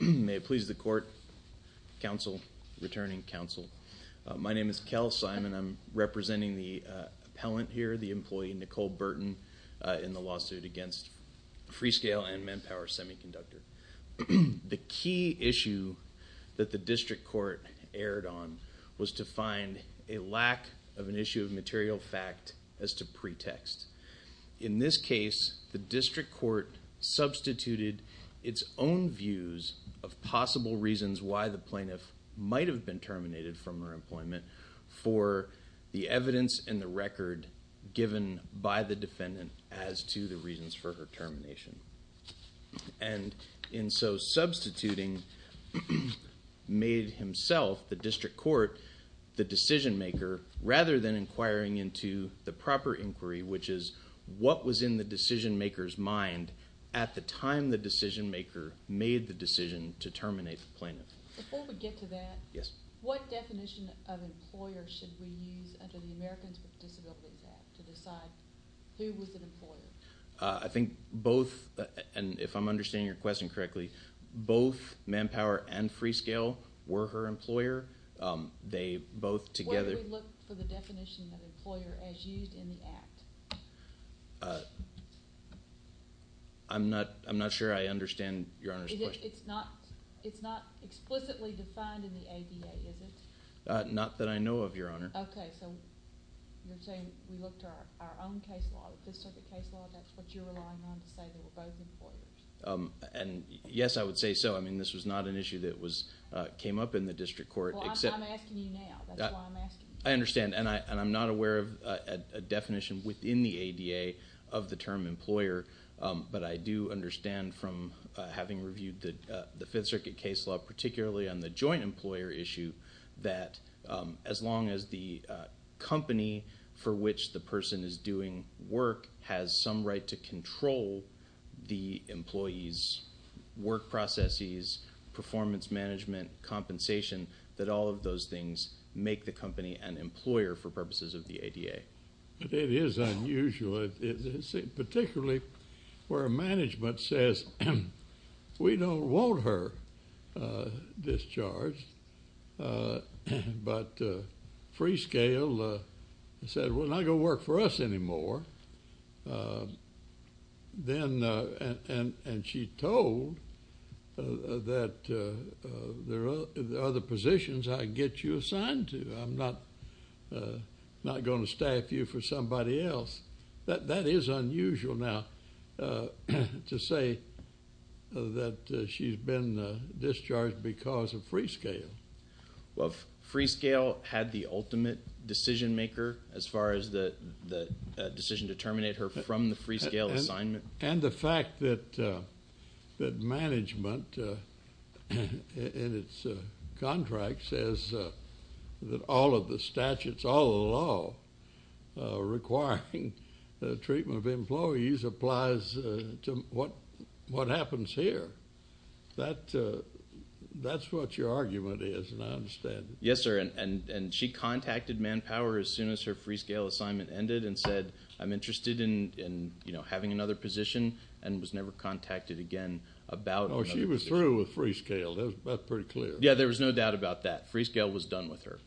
al. May it please the Court, Counsel, returning Counsel, my name is Kel Simon, I'm representing the appellant here, the employee, Nicole Burton, in the lawsuit against Freescale and Manpower Semiconductor. The key issue that the District Court erred on was to find a lack of an issue of material fact as to pretext. In this case, the District Court substituted its own views of possible reasons why the plaintiff might have been terminated from her employment for the evidence and the record given by the defendant as to the reasons for her termination. And in so substituting, made himself, the District Court, the decision maker, rather than inquiring into the proper inquiry, which is what was in the decision maker's mind at the time the decision maker made the decision to terminate the plaintiff. Before we get to that, what definition of employer should we use under the Americans with Disabilities Act to decide who was an employer? I think both, and if I'm understanding your question correctly, both Manpower and Freescale were her employer. Where do we look for the definition of employer as used in the Act? I'm not sure I understand Your Honor's question. It's not explicitly defined in the ADA, is it? Not that I know of, Your Honor. Okay, so you're saying we look to our own case law, the Fifth Circuit case law, that's what you're relying on to say they were both employers? And yes, I would say so. I mean, this was not an issue that came up in the District Court except... Well, I'm asking you now. That's why I'm asking you. I understand, and I'm not aware of a definition within the ADA of the term employer, but I do understand from having reviewed the Fifth Circuit case law, particularly on the joint employer issue, that as long as the company for which the person is doing work has some right to control the employee's work processes, performance management, compensation, that all of those things make the company an employer for purposes of the ADA. But it is unusual, particularly where management says, we don't want her discharged, but Freescale said, we're not going to work for us anymore, and she told that there are other positions I can get you assigned to. I'm not going to staff you for somebody else. That is unusual now to say that she's been discharged because of Freescale. Well, if Freescale had the ultimate decision maker as far as the decision to terminate her from the Freescale assignment... She says that all of the statutes, all of the law requiring the treatment of employees applies to what happens here. That's what your argument is, and I understand it. Yes, sir, and she contacted Manpower as soon as her Freescale assignment ended and said, I'm interested in having another position and was never contacted again about... Oh, she was through with Freescale. That's pretty clear. Yeah, there was no doubt about that. Freescale was done with her.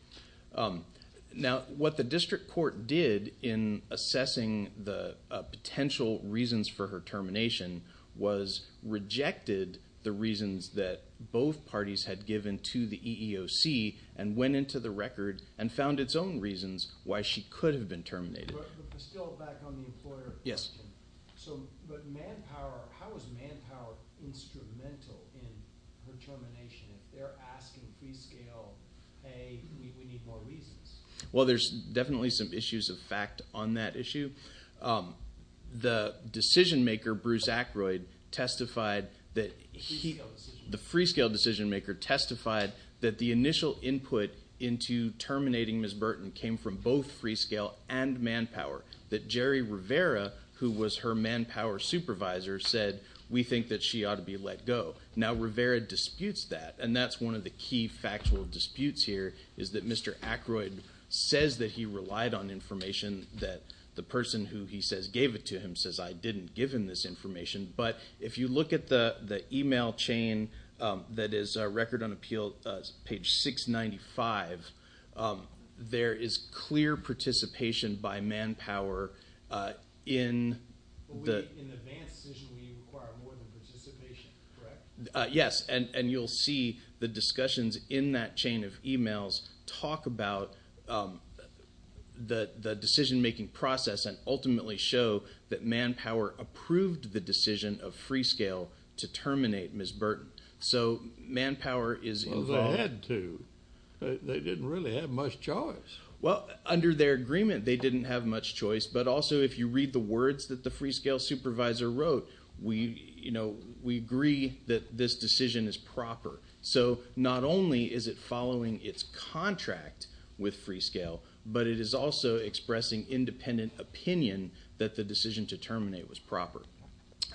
Now, what the district court did in assessing the potential reasons for her termination was rejected the reasons that both parties had given to the EEOC and went into the record and found its own reasons why she could have been terminated. Still back on the employer question. How is Manpower instrumental in her termination? If they're asking Freescale, hey, we need more reasons. Well, there's definitely some issues of fact on that issue. The decision maker, Bruce Ackroyd, testified that he... The Freescale decision maker testified that the initial input into Jerry Rivera, who was her Manpower supervisor, said, we think that she ought to be let go. Now, Rivera disputes that, and that's one of the key factual disputes here is that Mr. Ackroyd says that he relied on information that the person who he says gave it to him says, I didn't give him this information. But if you look at the email chain that is our record on appeal, page 695, there is clear participation by Manpower in the... In an advanced decision, we require more than participation, correct? Yes, and you'll see the discussions in that chain of emails talk about the decision making process and ultimately show that Manpower approved the decision of Freescale to terminate Ms. Burton. So Manpower is involved... Well, they had to. They didn't really have much choice. Well, under their agreement, they didn't have much choice, but also if you read the words that the Freescale supervisor wrote, we agree that this decision is proper. So not only is it following its contract with Freescale, but it is also expressing independent opinion that the decision to terminate was proper.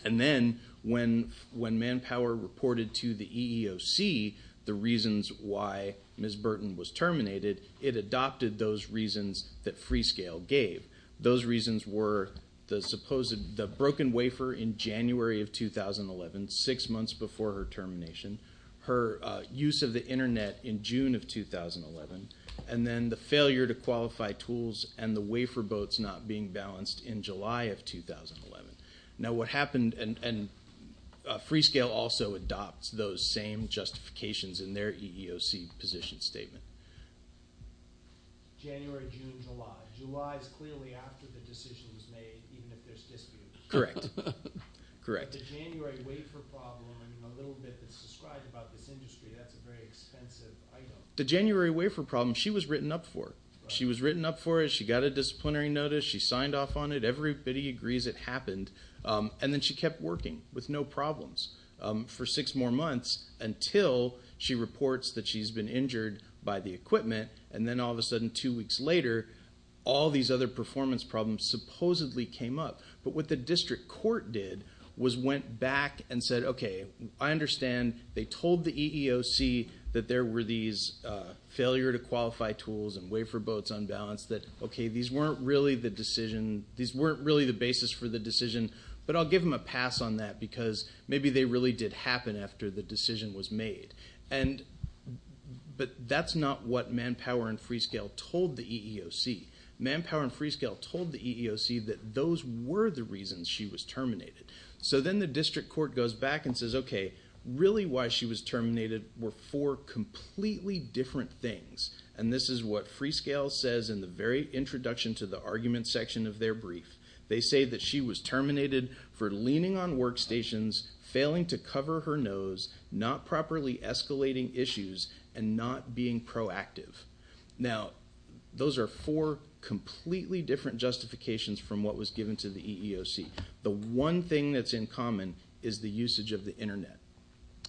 And then when Manpower reported to the EEOC the reasons why Ms. Burton was terminated, it adopted those reasons that Freescale gave. Those reasons were the broken wafer in January of 2011, six months before her termination, her use of the internet in June of 2011, and then the failure to qualify tools and the request in July of 2011. Now what happened... and Freescale also adopts those same justifications in their EEOC position statement. January, June, July. July is clearly after the decision was made, even if there's dispute. Correct. Correct. But the January wafer problem and a little bit that's described about this industry, that's a very expensive item. The January wafer problem, she was written up for. She was written up for it. She got a disciplinary notice. She signed off on it. Everybody agrees it happened. And then she kept working with no problems for six more months until she reports that she's been injured by the equipment. And then all of a sudden, two weeks later, all these other performance problems supposedly came up. But what the district court did was went back and said, okay, I understand they told the EEOC that there were these failure to qualify tools and wafer boats unbalanced that, okay, these weren't really the basis for the decision, but I'll give them a pass on that because maybe they really did happen after the decision was made. But that's not what Manpower and Freescale told the EEOC. Manpower and Freescale told the EEOC that those were the reasons she was terminated. So then the district court goes back and says, okay, really why she was terminated were four completely different things. And this is what Freescale says in the very introduction to the argument section of their brief. They say that she was terminated for leaning on workstations, failing to cover her nose, not properly escalating issues, and not being proactive. Now, those are four completely different justifications from what was given to the EEOC. The one thing that's in common is the usage of the Internet.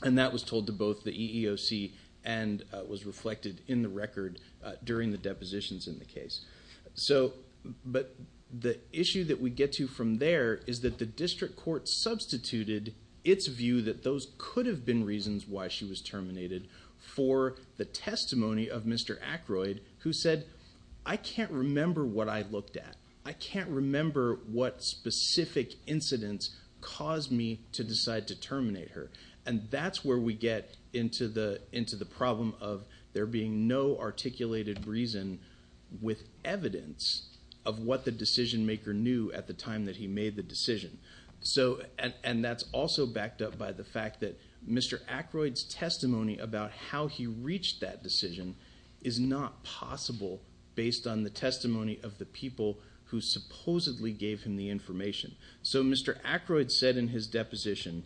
And that was told to both the EEOC and was reflected in the record during the depositions in the case. But the issue that we get to from there is that the district court substituted its view that those could have been reasons why she was terminated for the testimony of Mr. Aykroyd who said, I can't remember what I looked at. I can't remember what specific incidents caused me to decide to terminate her. And that's where we get into the problem of there being no articulated reason with evidence of what the decision maker knew at the time that he made the decision. And that's also backed up by the fact that Mr. Aykroyd's testimony about how he reached that decision is not possible based on the testimony of the people who supposedly gave him the information. So Mr. Aykroyd said in his deposition,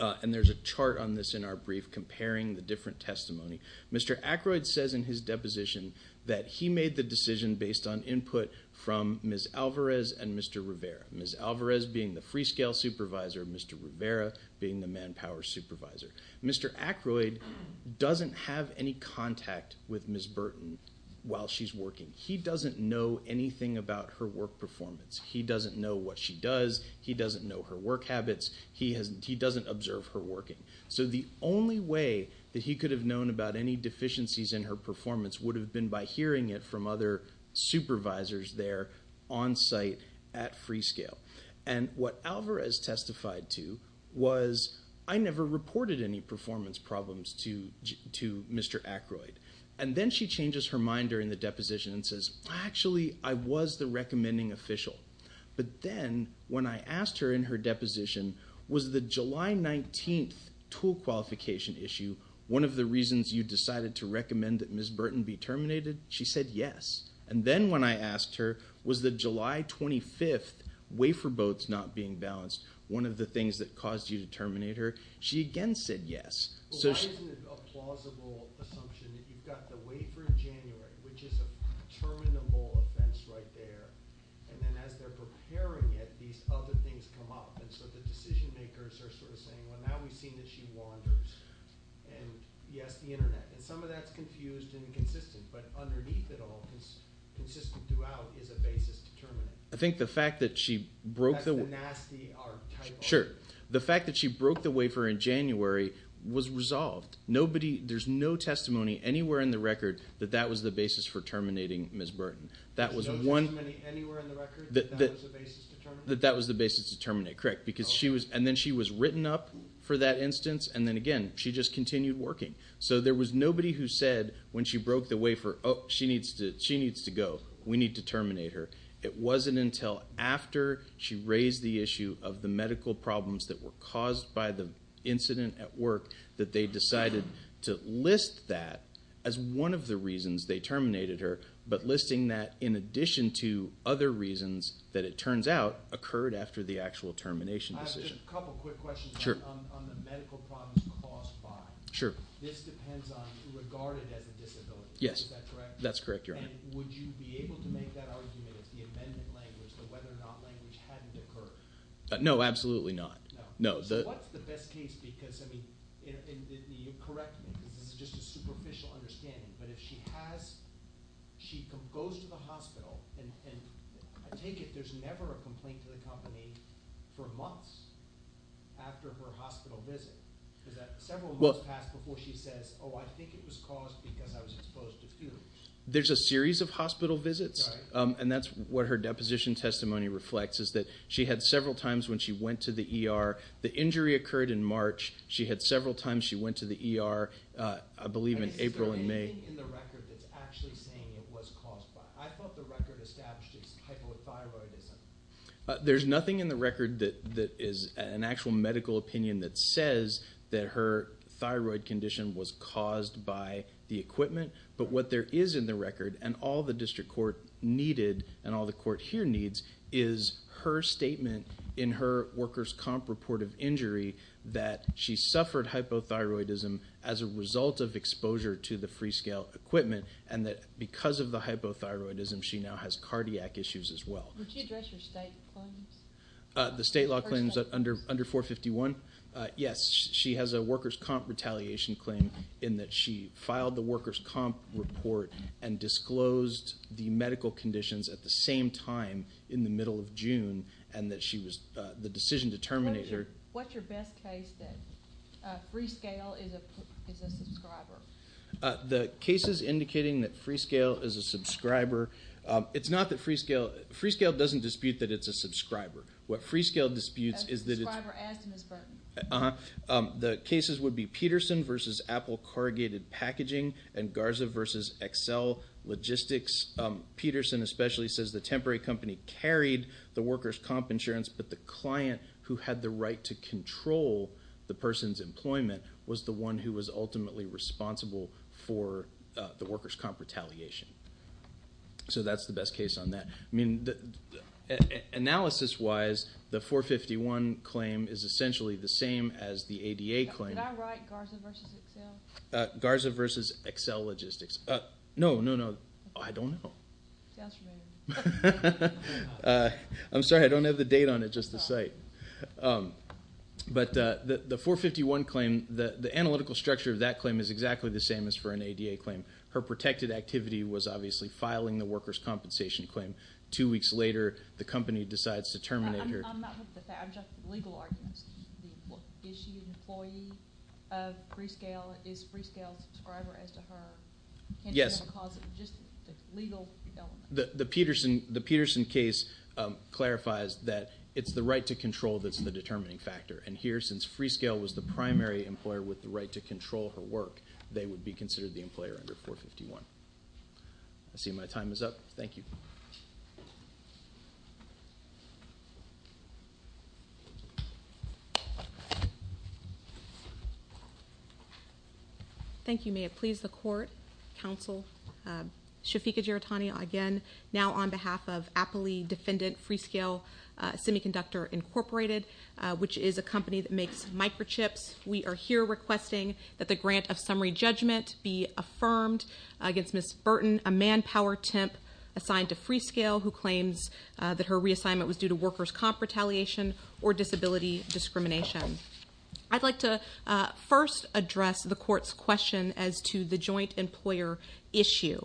and there's a chart on this in our brief comparing the different testimony, Mr. Aykroyd says in his deposition that he made the decision based on input from Ms. Alvarez and Mr. Rivera. Ms. Alvarez being the free scale supervisor and Mr. Rivera being the manpower supervisor. Mr. Aykroyd doesn't have any contact with Ms. Burton while she's working. He doesn't know anything about her work performance. He doesn't know what she does. He doesn't know her work habits. He doesn't observe her working. So the only way that he could have known about any deficiencies in her performance would have been by hearing it from other supervisors there on site at free scale. And what Alvarez testified to was I never reported any performance problems to Mr. Aykroyd. And then she changes her mind during the deposition and says actually I was the recommending official. But then when I asked her in her deposition was the July 19th tool qualification issue one of the reasons you decided to recommend that Ms. Burton be terminated, she said yes. And then when I asked her was the July 25th wafer boats not being balanced one of the things that caused you to terminate her, she again said yes. Why isn't it a plausible assumption that you've got the wafer in January which is a terminable offense right there and then as they're preparing it these other things come up and so the decision makers are sort of saying well now we've seen that she wanders and yes the internet and some of that's confused and inconsistent but underneath it all consistent throughout is a basis to terminate. I think the fact that she broke the wafer in January was resolved. There's no testimony anywhere in the record that that was the basis for terminating Ms. Burton. No testimony anywhere in the record that that was the basis to terminate? That that was the basis to terminate, correct. And then she was written up for that instance and then again she just continued working. So there was nobody who said when she broke the wafer oh she needs to go, we need to terminate her. It wasn't until after she raised the medical problems that were caused by the incident at work that they decided to list that as one of the reasons they terminated her but listing that in addition to other reasons that it turns out occurred after the actual termination decision. I have just a couple quick questions on the medical problems caused by. Sure. This depends on regarded as a disability, is that correct? Yes, that's correct, your honor. And would you be able to make that argument if the amended language, the whether or not language hadn't occurred? No, absolutely not. No. No. So what's the best case because I mean you correct me because this is just a superficial understanding but if she has, she goes to the hospital and I take it there's never a complaint to the company for months after her hospital visit. Is that several months passed before she says oh I think it was caused because I was exposed to fumes? There's a series of hospital visits and that's what her deposition testimony reflects is that she had several times when she went to the ER. The injury occurred in March. She had several times she went to the ER I believe in April and May. Is there anything in the record that's actually saying it was caused by? I thought the record established it's hypothyroidism. There's nothing in the record that is an actual medical opinion that says that her thyroid condition was caused by the equipment but what there is in the record and all the district court needed and all the court here needs is her statement in her worker's comp report of injury that she suffered hypothyroidism as a result of exposure to the free scale equipment and that because of the hypothyroidism she now has cardiac issues as well. Would she address her state claims? The state law claims under 451? Yes. She has a worker's comp retaliation claim in that she filed the worker's comp report and disclosed the medical conditions at the same time in the middle of June and that she was the decision determinator. What's your best case that free scale is a subscriber? The cases indicating that free scale is a subscriber, it's not that free scale, free scale doesn't dispute that it's a subscriber. What free scale disputes is that it's A subscriber as to Ms. Burton. The cases would be Peterson versus Apple corrugated packaging and Garza versus Excel logistics. Peterson especially says the temporary company carried the worker's comp insurance but the client who had the right to control the person's employment was the one who was ultimately responsible for the worker's comp retaliation. So that's the best case on that. Analysis wise, the 451 claim is essentially the same as the ADA claim. Did I write Garza versus Excel? Garza versus Excel logistics. No, no, no, I don't know. Sounds familiar. I'm sorry, I don't have the date on it, just the site. But the 451 claim, the analytical structure of that claim is exactly the same as for an ADA claim. Her protected activity was obviously filing the worker's compensation claim. Two weeks later, the company decides to terminate her. I'm not looking at that, I'm just looking at legal arguments. Is she an employee of free scale? Is free scale a subscriber as to her? Yes. The Peterson case clarifies that it's the right to control that's the determining factor. And here, since free scale was the primary employer with the right to control her work, they would be considered the employer under 451. I see my time is up. Thank you. Thank you. May it please the court, counsel, Shafiqa Giratani again, now on behalf of Appley Defendant Free Scale Semiconductor Incorporated, which is a company that makes microchips. We are here requesting that the grant of summary judgment be affirmed against Ms. Burton, a manpower temp assigned to Free Scale, who claims that her reassignment was due to workers' comp retaliation or disability discrimination. I'd like to first address the court's question as to the joint employer issue.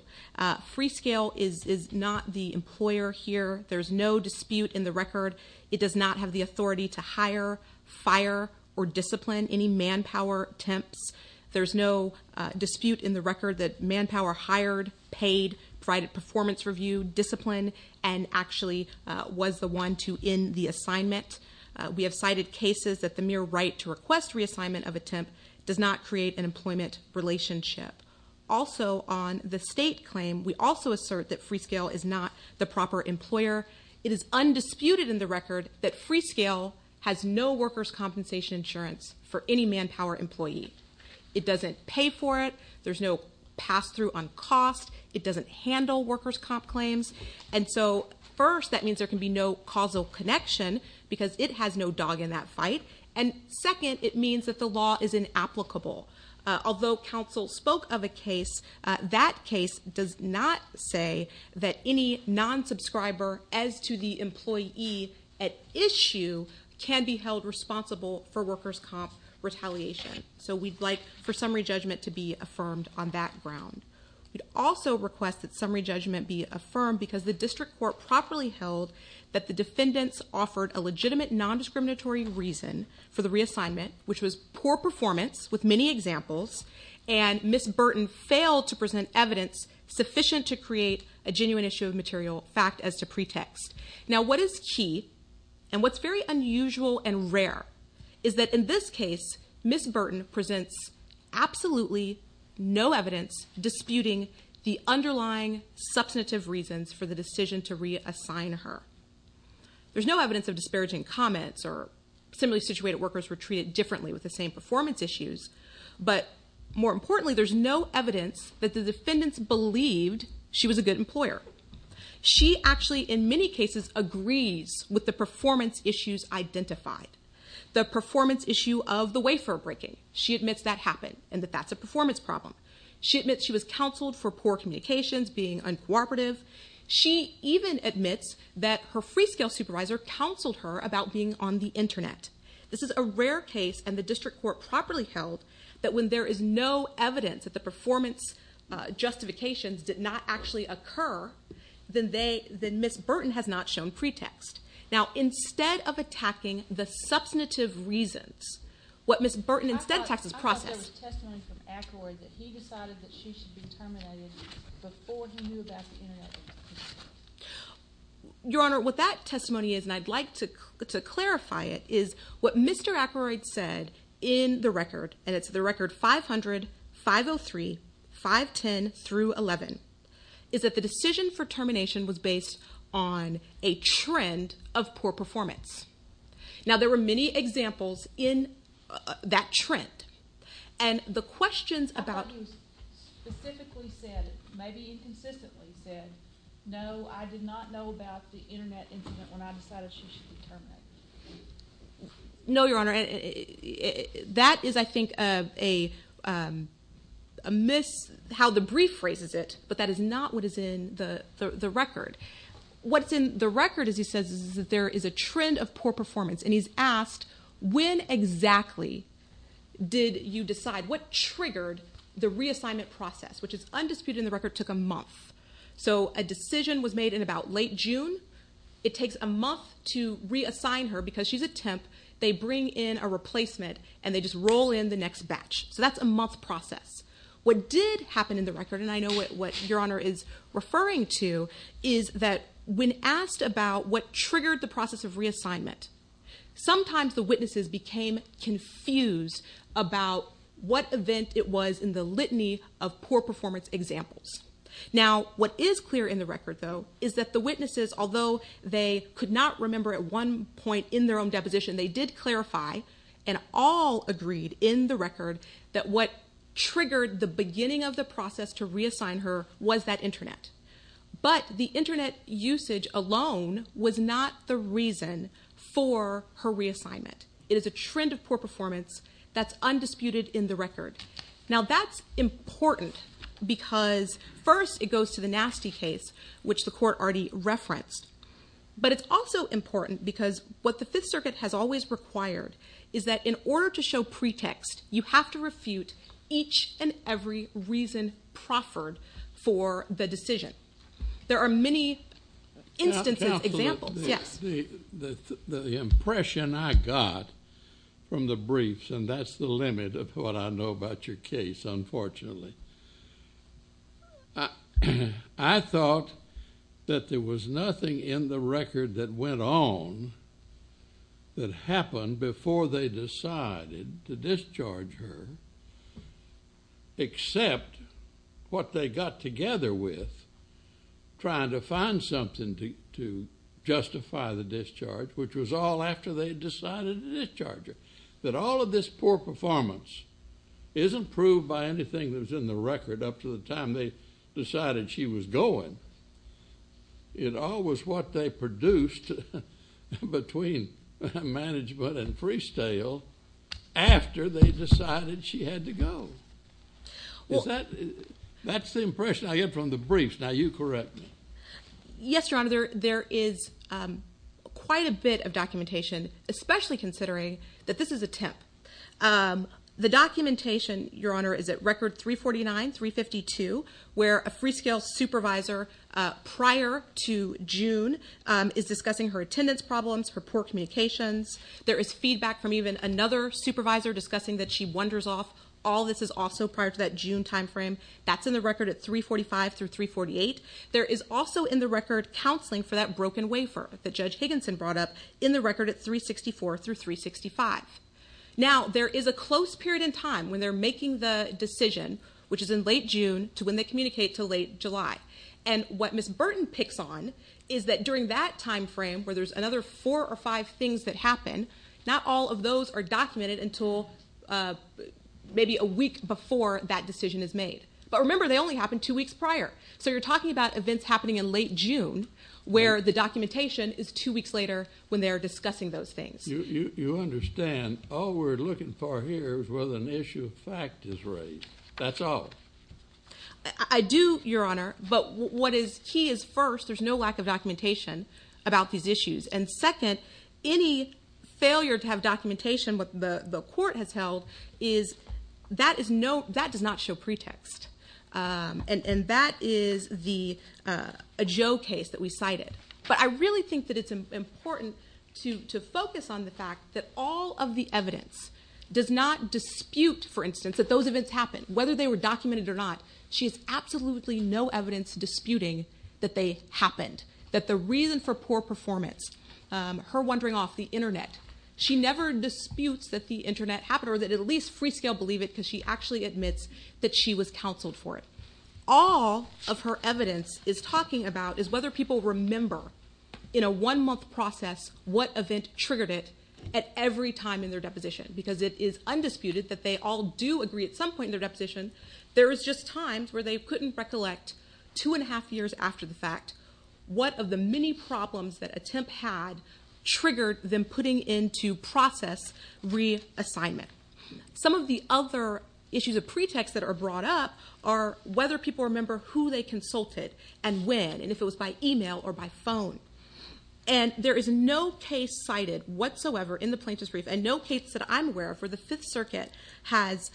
Free Scale is not the employer here. There's no dispute in the record. It does not have the authority to hire, fire, or discipline any manpower temps. There's no dispute in the record that manpower hired, paid, provided performance review, disciplined, and actually was the one to end the assignment. We have cited cases that the mere right to request reassignment of a temp does not create an employment relationship. Also, on the state claim, we also assert that Free Scale is not the proper employer. It is undisputed in the record that Free Scale has no workers' compensation insurance for any manpower employee. It doesn't pay for it. There's no pass-through on cost. It doesn't handle workers' comp claims. And so, first, that means there can be no causal connection because it has no dog in that fight. And second, it means that the law is inapplicable. Although counsel spoke of a case, that case does not say that any non-subscriber, as to the employee at issue, can be held responsible for workers' comp retaliation. So, we'd like for summary judgment to be affirmed on that ground. We'd also request that summary judgment be affirmed because the district court properly held that the defendants offered a legitimate nondiscriminatory reason for the reassignment, which was poor performance, with many examples, and Ms. Burton failed to present evidence sufficient to create a genuine issue of material fact as to pretext. Now, what is key, and what's very unusual and rare, is that, in this case, Ms. Burton presents absolutely no evidence disputing the underlying substantive reasons for the decision to reassign her. There's no evidence of disparaging comments, or similarly situated workers were treated differently with the same performance issues. But, more importantly, there's no evidence that the defendants believed she was a good employer. She actually, in many cases, agrees with the performance issues identified. The performance issue of the wafer breaking. She admits that happened, and that that's a performance problem. She admits she was counseled for poor communications, being uncooperative. She even admits that her free-scale supervisor counseled her about being on the internet. This is a rare case, and the district court properly held, that when there is no evidence that the performance justifications did not actually occur, then Ms. Burton has not shown pretext. Now, instead of attacking the substantive reasons, what Ms. Burton instead attacks is process. There was testimony from Ackroyd that he decided that she should be terminated before he knew about the internet. Your Honor, what that testimony is, and I'd like to clarify it, is what Mr. Ackroyd said in the record, and it's the record 500-503-510-11, is that the decision for termination was based on a trend of poor performance. Now, there were many examples in that trend, and the questions about- I thought he specifically said, maybe inconsistently said, no, I did not know about the internet incident when I decided she should be terminated. No, Your Honor. That is, I think, a mis- how the brief phrases it, but that is not what is in the record. What's in the record, as he says, is that there is a trend of poor performance, and he's asked when exactly did you decide- what triggered the reassignment process, which is undisputed in the record, took a month. So a decision was made in about late June. It takes a month to reassign her because she's a temp. They bring in a replacement, and they just roll in the next batch. So that's a month process. What did happen in the record, and I know what Your Honor is referring to, is that when asked about what triggered the process of reassignment, sometimes the witnesses became confused about what event it was in the litany of poor performance examples. Now, what is clear in the record, though, is that the witnesses, although they could not remember at one point in their own deposition, they did clarify and all agreed in the record that what triggered the beginning of the process to reassign her was that Internet. But the Internet usage alone was not the reason for her reassignment. It is a trend of poor performance that's undisputed in the record. Now, that's important because, first, it goes to the nasty case, which the court already referenced, but it's also important because what the Fifth Circuit has always required is that in order to show pretext, you have to refute each and every reason proffered for the decision. There are many instances, examples. Yes? The impression I got from the briefs, and that's the limit of what I know about your case, unfortunately, I thought that there was nothing in the record that went on that happened before they decided to discharge her except what they got together with trying to find something to justify the discharge, which was all after they decided to discharge her, that all of this poor performance isn't proved by anything that was in the record up to the time they decided she was going. It all was what they produced between management and freestyle after they decided she had to go. Is that—that's the impression I get from the briefs. Now, you correct me. Yes, Your Honor, there is quite a bit of documentation, especially considering that this is a temp. The documentation, Your Honor, is at record 349, 352, where a freestyle supervisor prior to June is discussing her attendance problems, her poor communications. There is feedback from even another supervisor discussing that she wanders off. All this is also prior to that June timeframe. That's in the record at 345 through 348. There is also in the record counseling for that broken wafer that Judge Higginson brought up in the record at 364 through 365. Now, there is a close period in time when they're making the decision, which is in late June, to when they communicate to late July. And what Ms. Burton picks on is that during that timeframe, where there's another four or five things that happen, not all of those are documented until maybe a week before that decision is made. But remember, they only happened two weeks prior. So you're talking about events happening in late June, where the documentation is two weeks later when they're discussing those things. You understand all we're looking for here is whether an issue of fact is raised. That's all. I do, Your Honor. But what is key is, first, there's no lack of documentation about these issues. And second, any failure to have documentation, what the court has held, is that does not show pretext. And that is a Joe case that we cited. But I really think that it's important to focus on the fact that all of the evidence does not dispute, for instance, that those events happened. Whether they were documented or not, she has absolutely no evidence disputing that they happened, that the reason for poor performance, her wandering off the Internet, she never disputes that the Internet happened or that at least Freescale believe it because she actually admits that she was counseled for it. All of her evidence is talking about is whether people remember, in a one-month process, what event triggered it at every time in their deposition. Because it is undisputed that they all do agree at some point in their deposition, there is just times where they couldn't recollect two and a half years after the fact, what of the many problems that attempt had triggered them putting into process reassignment. Some of the other issues of pretext that are brought up are whether people remember who they consulted and when, and if it was by email or by phone. And there is no case cited whatsoever in the plaintiff's brief, and no case that I'm aware of where the Fifth Circuit has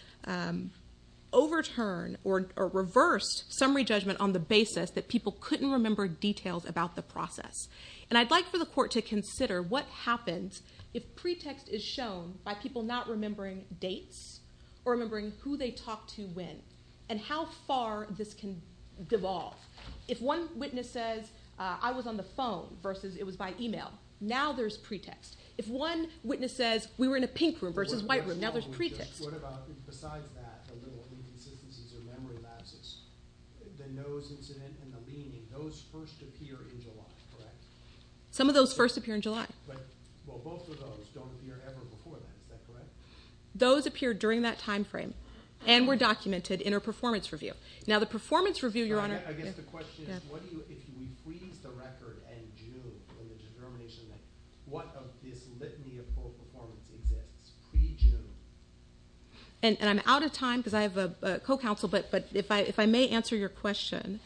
overturned or reversed summary judgment on the basis that people couldn't remember details about the process. And I'd like for the court to consider what happens if pretext is shown by people not remembering dates or remembering who they talked to when and how far this can devolve. If one witness says, I was on the phone versus it was by email, now there's pretext. If one witness says, we were in a pink room versus white room, now there's pretext. Besides that, the little inconsistencies or memory lapses, the nose incident and the leaning, those first appear in July, correct? Some of those first appear in July. Well, both of those don't appear ever before then, is that correct? Those appear during that time frame and were documented in a performance review. Now, the performance review, Your Honor. I guess the question is, if we freeze the record in June, what of this litany of poor performance exists pre-June? And I'm out of time because I have a co-counsel, but if I may answer your question,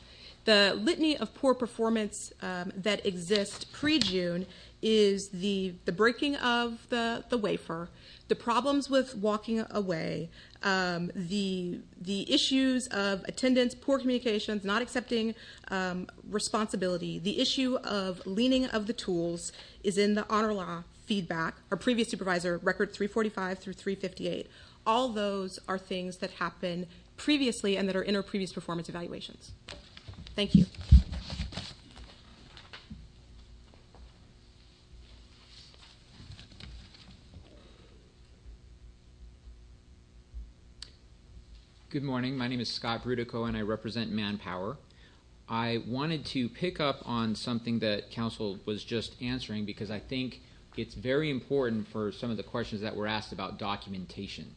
the litany of poor performance that exists pre-June is the breaking of the wafer, the problems with walking away, the issues of attendance, poor communications, not accepting responsibility, the issue of leaning of the tools is in the honor law feedback, our previous supervisor record 345 through 358. All those are things that happened previously and that are in our previous performance evaluations. Thank you. Good morning. My name is Scott Brutico and I represent Manpower. I wanted to pick up on something that counsel was just answering because I think it's very important for some of the questions that were asked about documentation.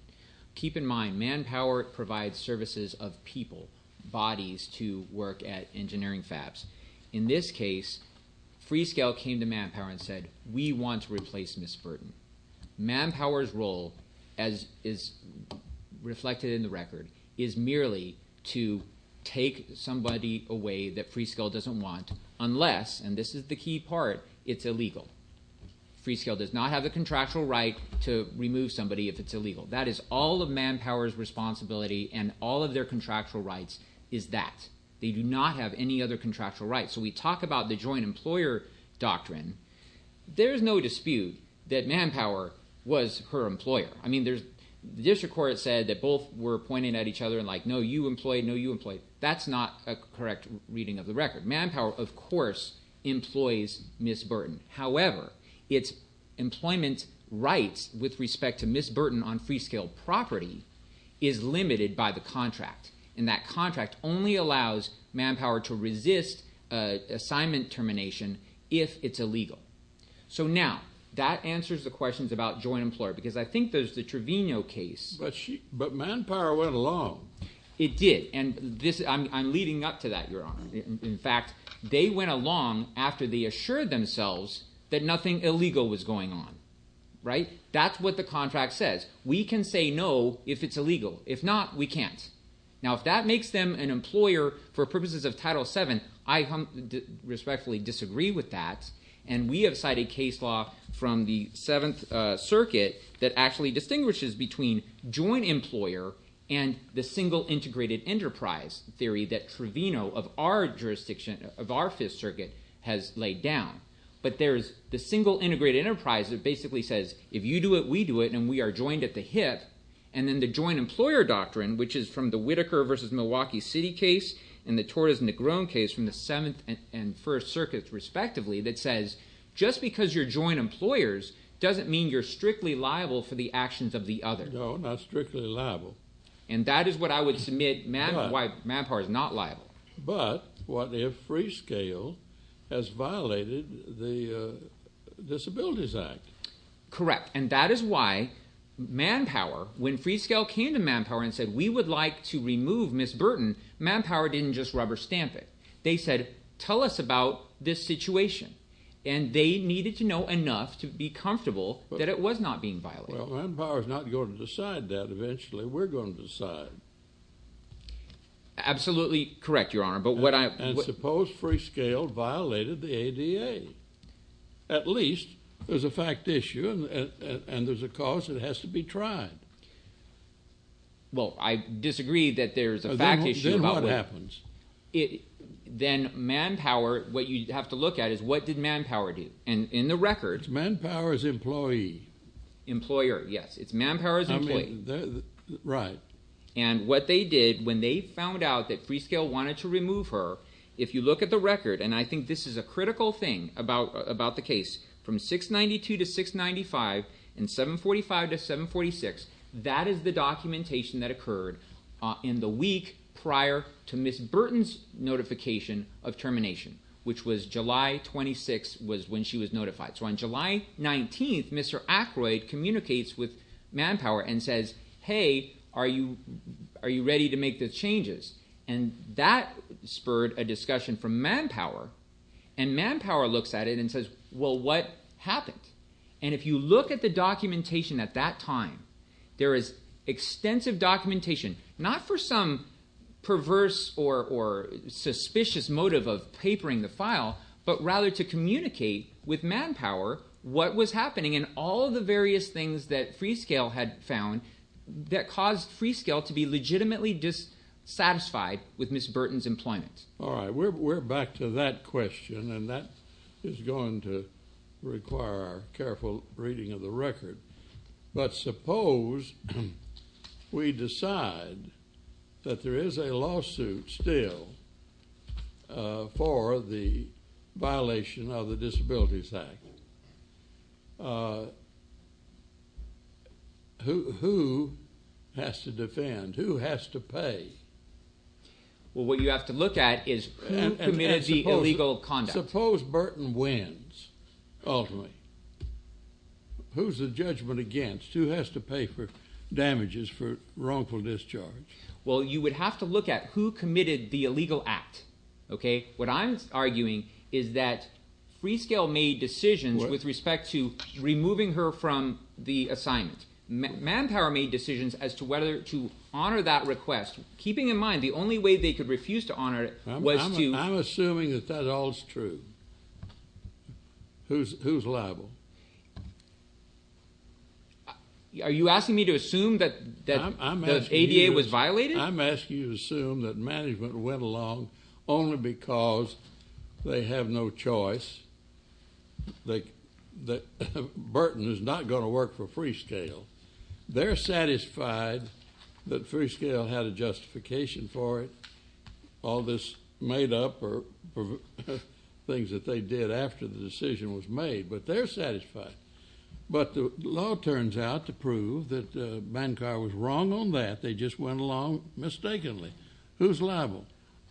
Keep in mind, Manpower provides services of people, bodies to work at engineering fabs. In this case, Freescale came to Manpower and said, we want to replace Ms. Burton. Manpower's role, as is reflected in the record, is merely to take somebody away that Freescale doesn't want unless, and this is the key part, it's illegal. Freescale does not have the contractual right to remove somebody if it's illegal. That is all of Manpower's responsibility and all of their contractual rights is that. They do not have any other contractual rights. So we talk about the joint employer doctrine. There is no dispute that Manpower was her employer. I mean, the district court said that both were pointing at each other and like, no, you employ, no, you employ. That's not a correct reading of the record. Manpower, of course, employs Ms. Burton. However, its employment rights with respect to Ms. Burton on Freescale property is limited by the contract, and that contract only allows Manpower to resist assignment termination if it's illegal. So now that answers the questions about joint employer because I think there's the Trevino case. But Manpower went along. It did, and I'm leading up to that, Your Honor. In fact, they went along after they assured themselves that nothing illegal was going on, right? That's what the contract says. We can say no if it's illegal. If not, we can't. Now, if that makes them an employer for purposes of Title VII, I respectfully disagree with that, and we have cited case law from the Seventh Circuit that actually distinguishes between joint employer and the single integrated enterprise theory that Trevino of our jurisdiction, of our Fifth Circuit, has laid down. But there's the single integrated enterprise that basically says if you do it, we do it, and we are joined at the hip, and then the joint employer doctrine, which is from the Whitaker v. Milwaukee City case and the Torres and Negron case from the Seventh and First Circuits respectively, that says just because you're joint employers doesn't mean you're strictly liable for the actions of the other. No, not strictly liable. And that is what I would submit why Manpower is not liable. But what if Freescale has violated the Disabilities Act? Correct, and that is why Manpower, when Freescale came to Manpower and said we would like to remove Ms. Burton, Manpower didn't just rubber stamp it. They said tell us about this situation, and they needed to know enough to be comfortable that it was not being violated. Well, Manpower is not going to decide that eventually. We're going to decide. Absolutely correct, Your Honor. And suppose Freescale violated the ADA. At least there's a fact issue, and there's a cause that has to be tried. Well, I disagree that there's a fact issue. Then what happens? Then Manpower, what you have to look at is what did Manpower do? And in the record— It's Manpower's employee. Employer, yes. It's Manpower's employee. Right. And what they did when they found out that Freescale wanted to remove her, if you look at the record, and I think this is a critical thing about the case, from 692 to 695 and 745 to 746, that is the documentation that occurred in the week prior to Ms. Burton's notification of termination, which was July 26th was when she was notified. So on July 19th, Mr. Aykroyd communicates with Manpower and says, hey, are you ready to make the changes? And that spurred a discussion from Manpower, and Manpower looks at it and says, well, what happened? And if you look at the documentation at that time, there is extensive documentation, not for some perverse or suspicious motive of papering the file, but rather to communicate with Manpower what was happening and all the various things that Freescale had found that caused Freescale to be legitimately dissatisfied with Ms. Burton's employment. All right. We're back to that question, and that is going to require careful reading of the record. But suppose we decide that there is a lawsuit still for the violation of the Disabilities Act. Who has to defend? Who has to pay? Well, what you have to look at is who committed the illegal conduct. Suppose Burton wins, ultimately. Who's the judgment against? Who has to pay for damages for wrongful discharge? Well, you would have to look at who committed the illegal act. What I'm arguing is that Freescale made decisions with respect to removing her from the assignment. Manpower made decisions as to whether to honor that request, keeping in mind the only way they could refuse to honor it was to— I'm assuming that that all is true. Who's liable? Are you asking me to assume that the ADA was violated? I'm asking you to assume that management went along only because they have no choice. Burton is not going to work for Freescale. They're satisfied that Freescale had a justification for it. All this made up are things that they did after the decision was made, but they're satisfied. But the law turns out to prove that Bancar was wrong on that. They just went along mistakenly. Who's liable?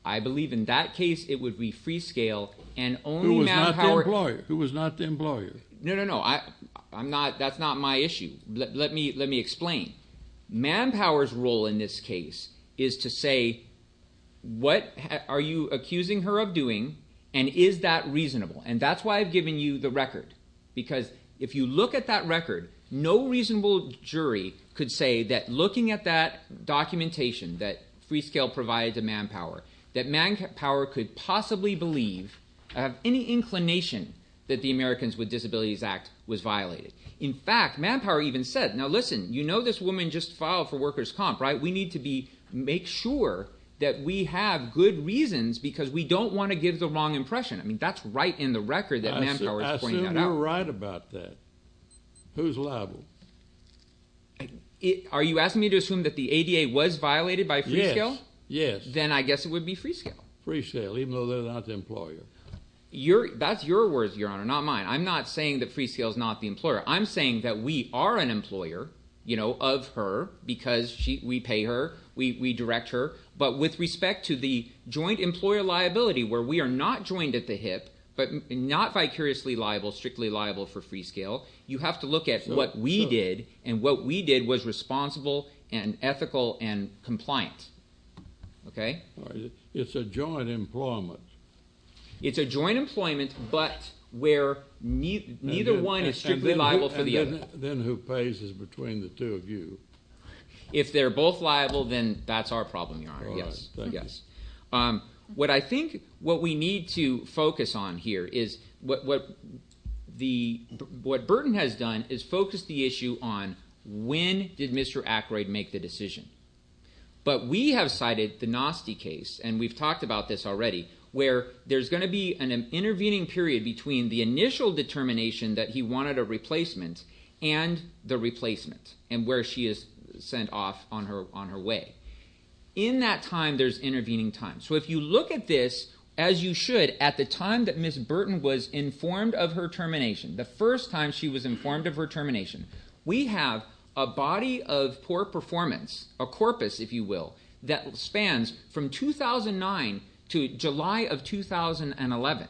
I believe in that case it would be Freescale and only Manpower— Who was not the employer. No, no, no. That's not my issue. Let me explain. Manpower's role in this case is to say what are you accusing her of doing and is that reasonable? And that's why I've given you the record because if you look at that record, no reasonable jury could say that looking at that documentation that Freescale provided to Manpower, that Manpower could possibly believe of any inclination that the Americans with Disabilities Act was violated. In fact, Manpower even said, now listen, you know this woman just filed for workers' comp, right? We need to make sure that we have good reasons because we don't want to give the wrong impression. I mean, that's right in the record that Manpower is pointing that out. You're right about that. Who's liable? Are you asking me to assume that the ADA was violated by Freescale? Yes, yes. Then I guess it would be Freescale. Freescale, even though they're not the employer. That's your words, Your Honor, not mine. I'm not saying that Freescale's not the employer. I'm saying that we are an employer, you know, of her because we pay her. We direct her. But with respect to the joint employer liability where we are not joined at the hip, but not vicariously liable, strictly liable for Freescale, you have to look at what we did, and what we did was responsible and ethical and compliant, okay? It's a joint employment. It's a joint employment, but where neither one is strictly liable for the other. And then who pays is between the two of you. If they're both liable, then that's our problem, Your Honor. Yes, yes. What I think what we need to focus on here is what Burton has done is focus the issue on when did Mr. Ackroyd make the decision. But we have cited the Noste case, and we've talked about this already, where there's going to be an intervening period between the initial determination that he wanted a replacement and the replacement and where she is sent off on her way. In that time, there's intervening time. So if you look at this as you should at the time that Ms. Burton was informed of her termination, the first time she was informed of her termination, we have a body of poor performance, a corpus, if you will, that spans from 2009 to July of 2011.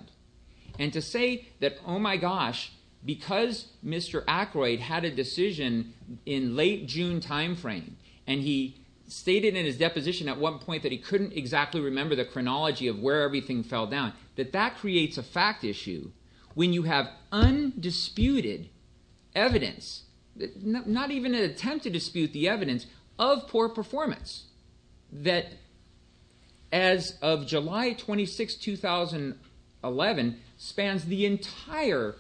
And to say that, oh, my gosh, because Mr. Ackroyd had a decision in late June timeframe and he stated in his deposition at one point that he couldn't exactly remember the chronology of where everything fell down, that that creates a fact issue when you have undisputed evidence, not even an attempt to dispute the evidence, of poor performance, that as of July 26, 2011, spans the entire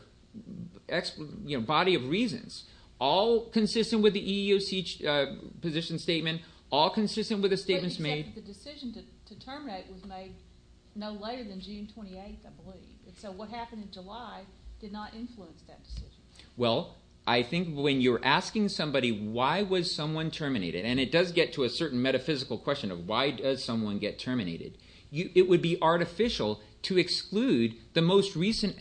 body of reasons, all consistent with the EEOC position statement, all consistent with the statements made. But the decision to terminate was made no later than June 28, I believe. So what happened in July did not influence that decision. Well, I think when you're asking somebody why was someone terminated, and it does get to a certain metaphysical question of why does someone get terminated, it would be artificial to exclude the most recent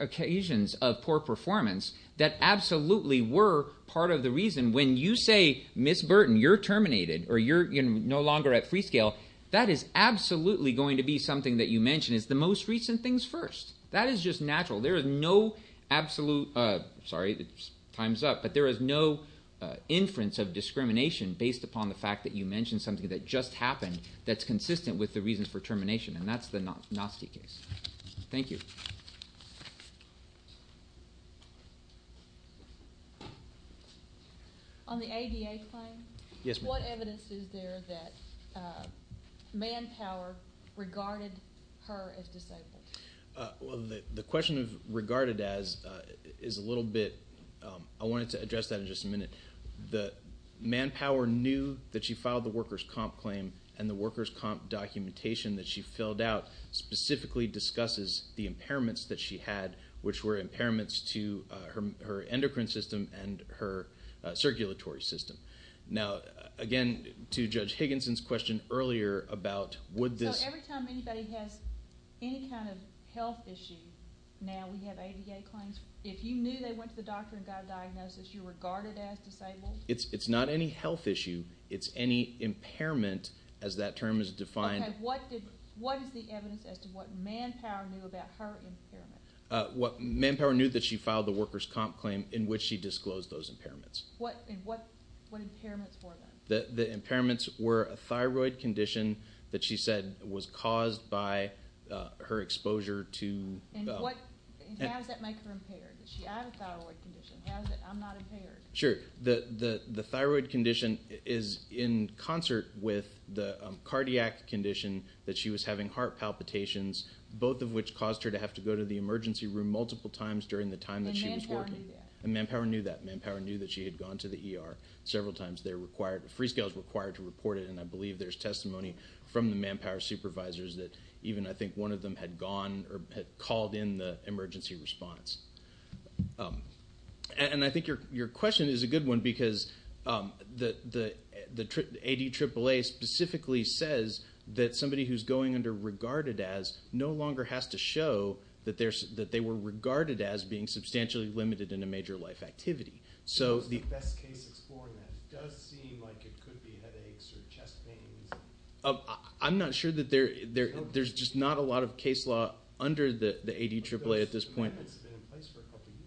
occasions of poor performance that absolutely were part of the reason. When you say, Ms. Burton, you're terminated or you're no longer at Freescale, that is absolutely going to be something that you mention as the most recent things first. That is just natural. There is no absolute – sorry, time's up – but there is no inference of discrimination based upon the fact that you mentioned something that just happened that's consistent with the reasons for termination, and that's the Gnostic case. Thank you. On the ADA claim, what evidence is there that manpower regarded her as disabled? Well, the question of regarded as is a little bit – I wanted to address that in just a minute. The manpower knew that she filed the workers' comp claim, and the workers' comp documentation that she filled out specifically discusses the impairments that she had, which were impairments to her endocrine system and her circulatory system. Now, again, to Judge Higginson's question earlier about would this – So every time anybody has any kind of health issue, now we have ADA claims, if you knew they went to the doctor and got a diagnosis, you're regarded as disabled? It's not any health issue. It's any impairment, as that term is defined. Okay. What is the evidence as to what manpower knew about her impairment? Manpower knew that she filed the workers' comp claim in which she disclosed those impairments. What impairments were them? The impairments were a thyroid condition that she said was caused by her exposure to – And how does that make her impaired? Does she have a thyroid condition? How is it I'm not impaired? Sure. The thyroid condition is in concert with the cardiac condition that she was having, heart palpitations, both of which caused her to have to go to the emergency room multiple times during the time that she was working. And manpower knew that? And manpower knew that. Manpower knew that she had gone to the ER several times. They're required – Freescale is required to report it, and I believe there's testimony from the manpower supervisors that even, I think, one of them had gone or had called in the emergency response. And I think your question is a good one because the ADAAA specifically says that somebody who's going under regarded as the best case explorer, and that does seem like it could be headaches or chest pains. I'm not sure that there – there's just not a lot of case law under the ADAAA at this point.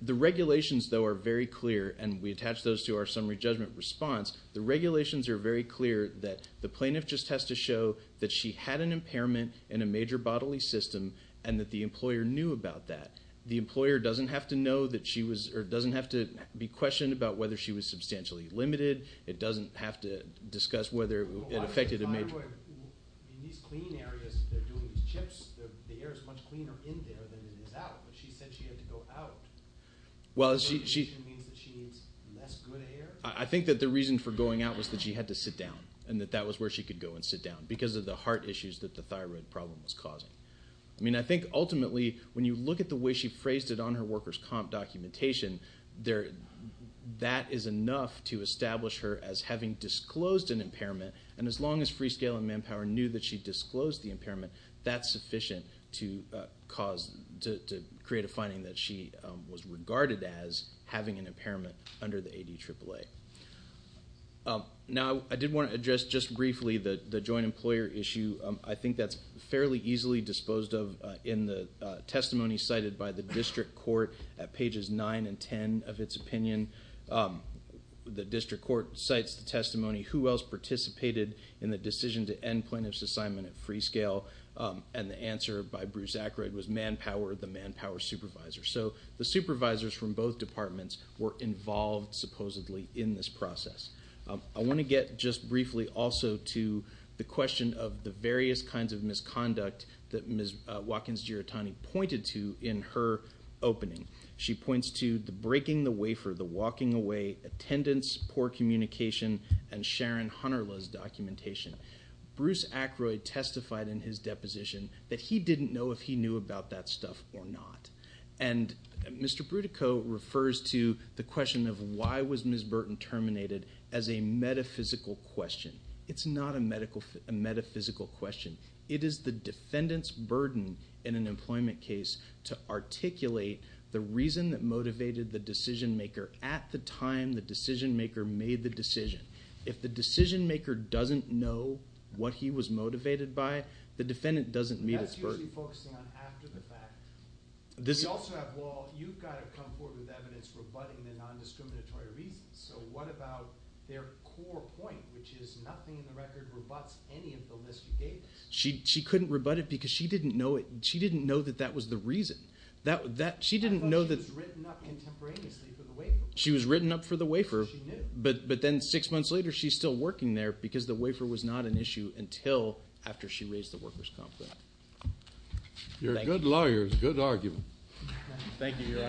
The regulations, though, are very clear, and we attach those to our summary judgment response. The regulations are very clear that the plaintiff just has to show that she had an impairment in a major bodily system and that the employer knew about that. The employer doesn't have to know that she was – or doesn't have to be questioned about whether she was substantially limited. It doesn't have to discuss whether it affected a major – Well, obviously thyroid – in these clean areas, they're doing these chips. The air is much cleaner in there than it is out, but she said she had to go out. Well, she – The regulation means that she needs less good air? I think that the reason for going out was that she had to sit down, and that that was where she could go and sit down because of the heart issues that the thyroid problem was causing. I mean, I think ultimately, when you look at the way she phrased it on her workers' comp documentation, that is enough to establish her as having disclosed an impairment, and as long as Freescale and Manpower knew that she disclosed the impairment, that's sufficient to cause – to create a finding that she was regarded as having an impairment under the ADAAA. Now, I did want to address just briefly the joint employer issue. I think that's fairly easily disposed of in the testimony cited by the district court at pages 9 and 10 of its opinion. The district court cites the testimony, who else participated in the decision to end plaintiff's assignment at Freescale, and the answer by Bruce Ackroyd was Manpower, the Manpower supervisor. So the supervisors from both departments were involved supposedly in this process. I want to get just briefly also to the question of the various kinds of misconduct that Ms. Watkins-Giratani pointed to in her opening. She points to the breaking the wafer, the walking away, attendance, poor communication, and Sharon Hunterla's documentation. Bruce Ackroyd testified in his deposition that he didn't know if he knew about that stuff or not, and Mr. Brutico refers to the question of why was Ms. Burton terminated as a metaphysical question. It's not a metaphysical question. It is the defendant's burden in an employment case to articulate the reason that motivated the decision-maker at the time the decision-maker made the decision. If the decision-maker doesn't know what he was motivated by, the defendant doesn't meet his burden. That's usually focusing on after the fact. We also have, well, you've got to come forward with evidence rebutting the nondiscriminatory reasons. So what about their core point, which is nothing in the record rebutts any of the list you gave? She couldn't rebut it because she didn't know that that was the reason. She didn't know that— I thought she was written up contemporaneously for the wafer. She was written up for the wafer. She knew. But then six months later, she's still working there because the wafer was not an issue until after she raised the workers' comp claim. You're good lawyers. Good argument. Thank you, Your Honor.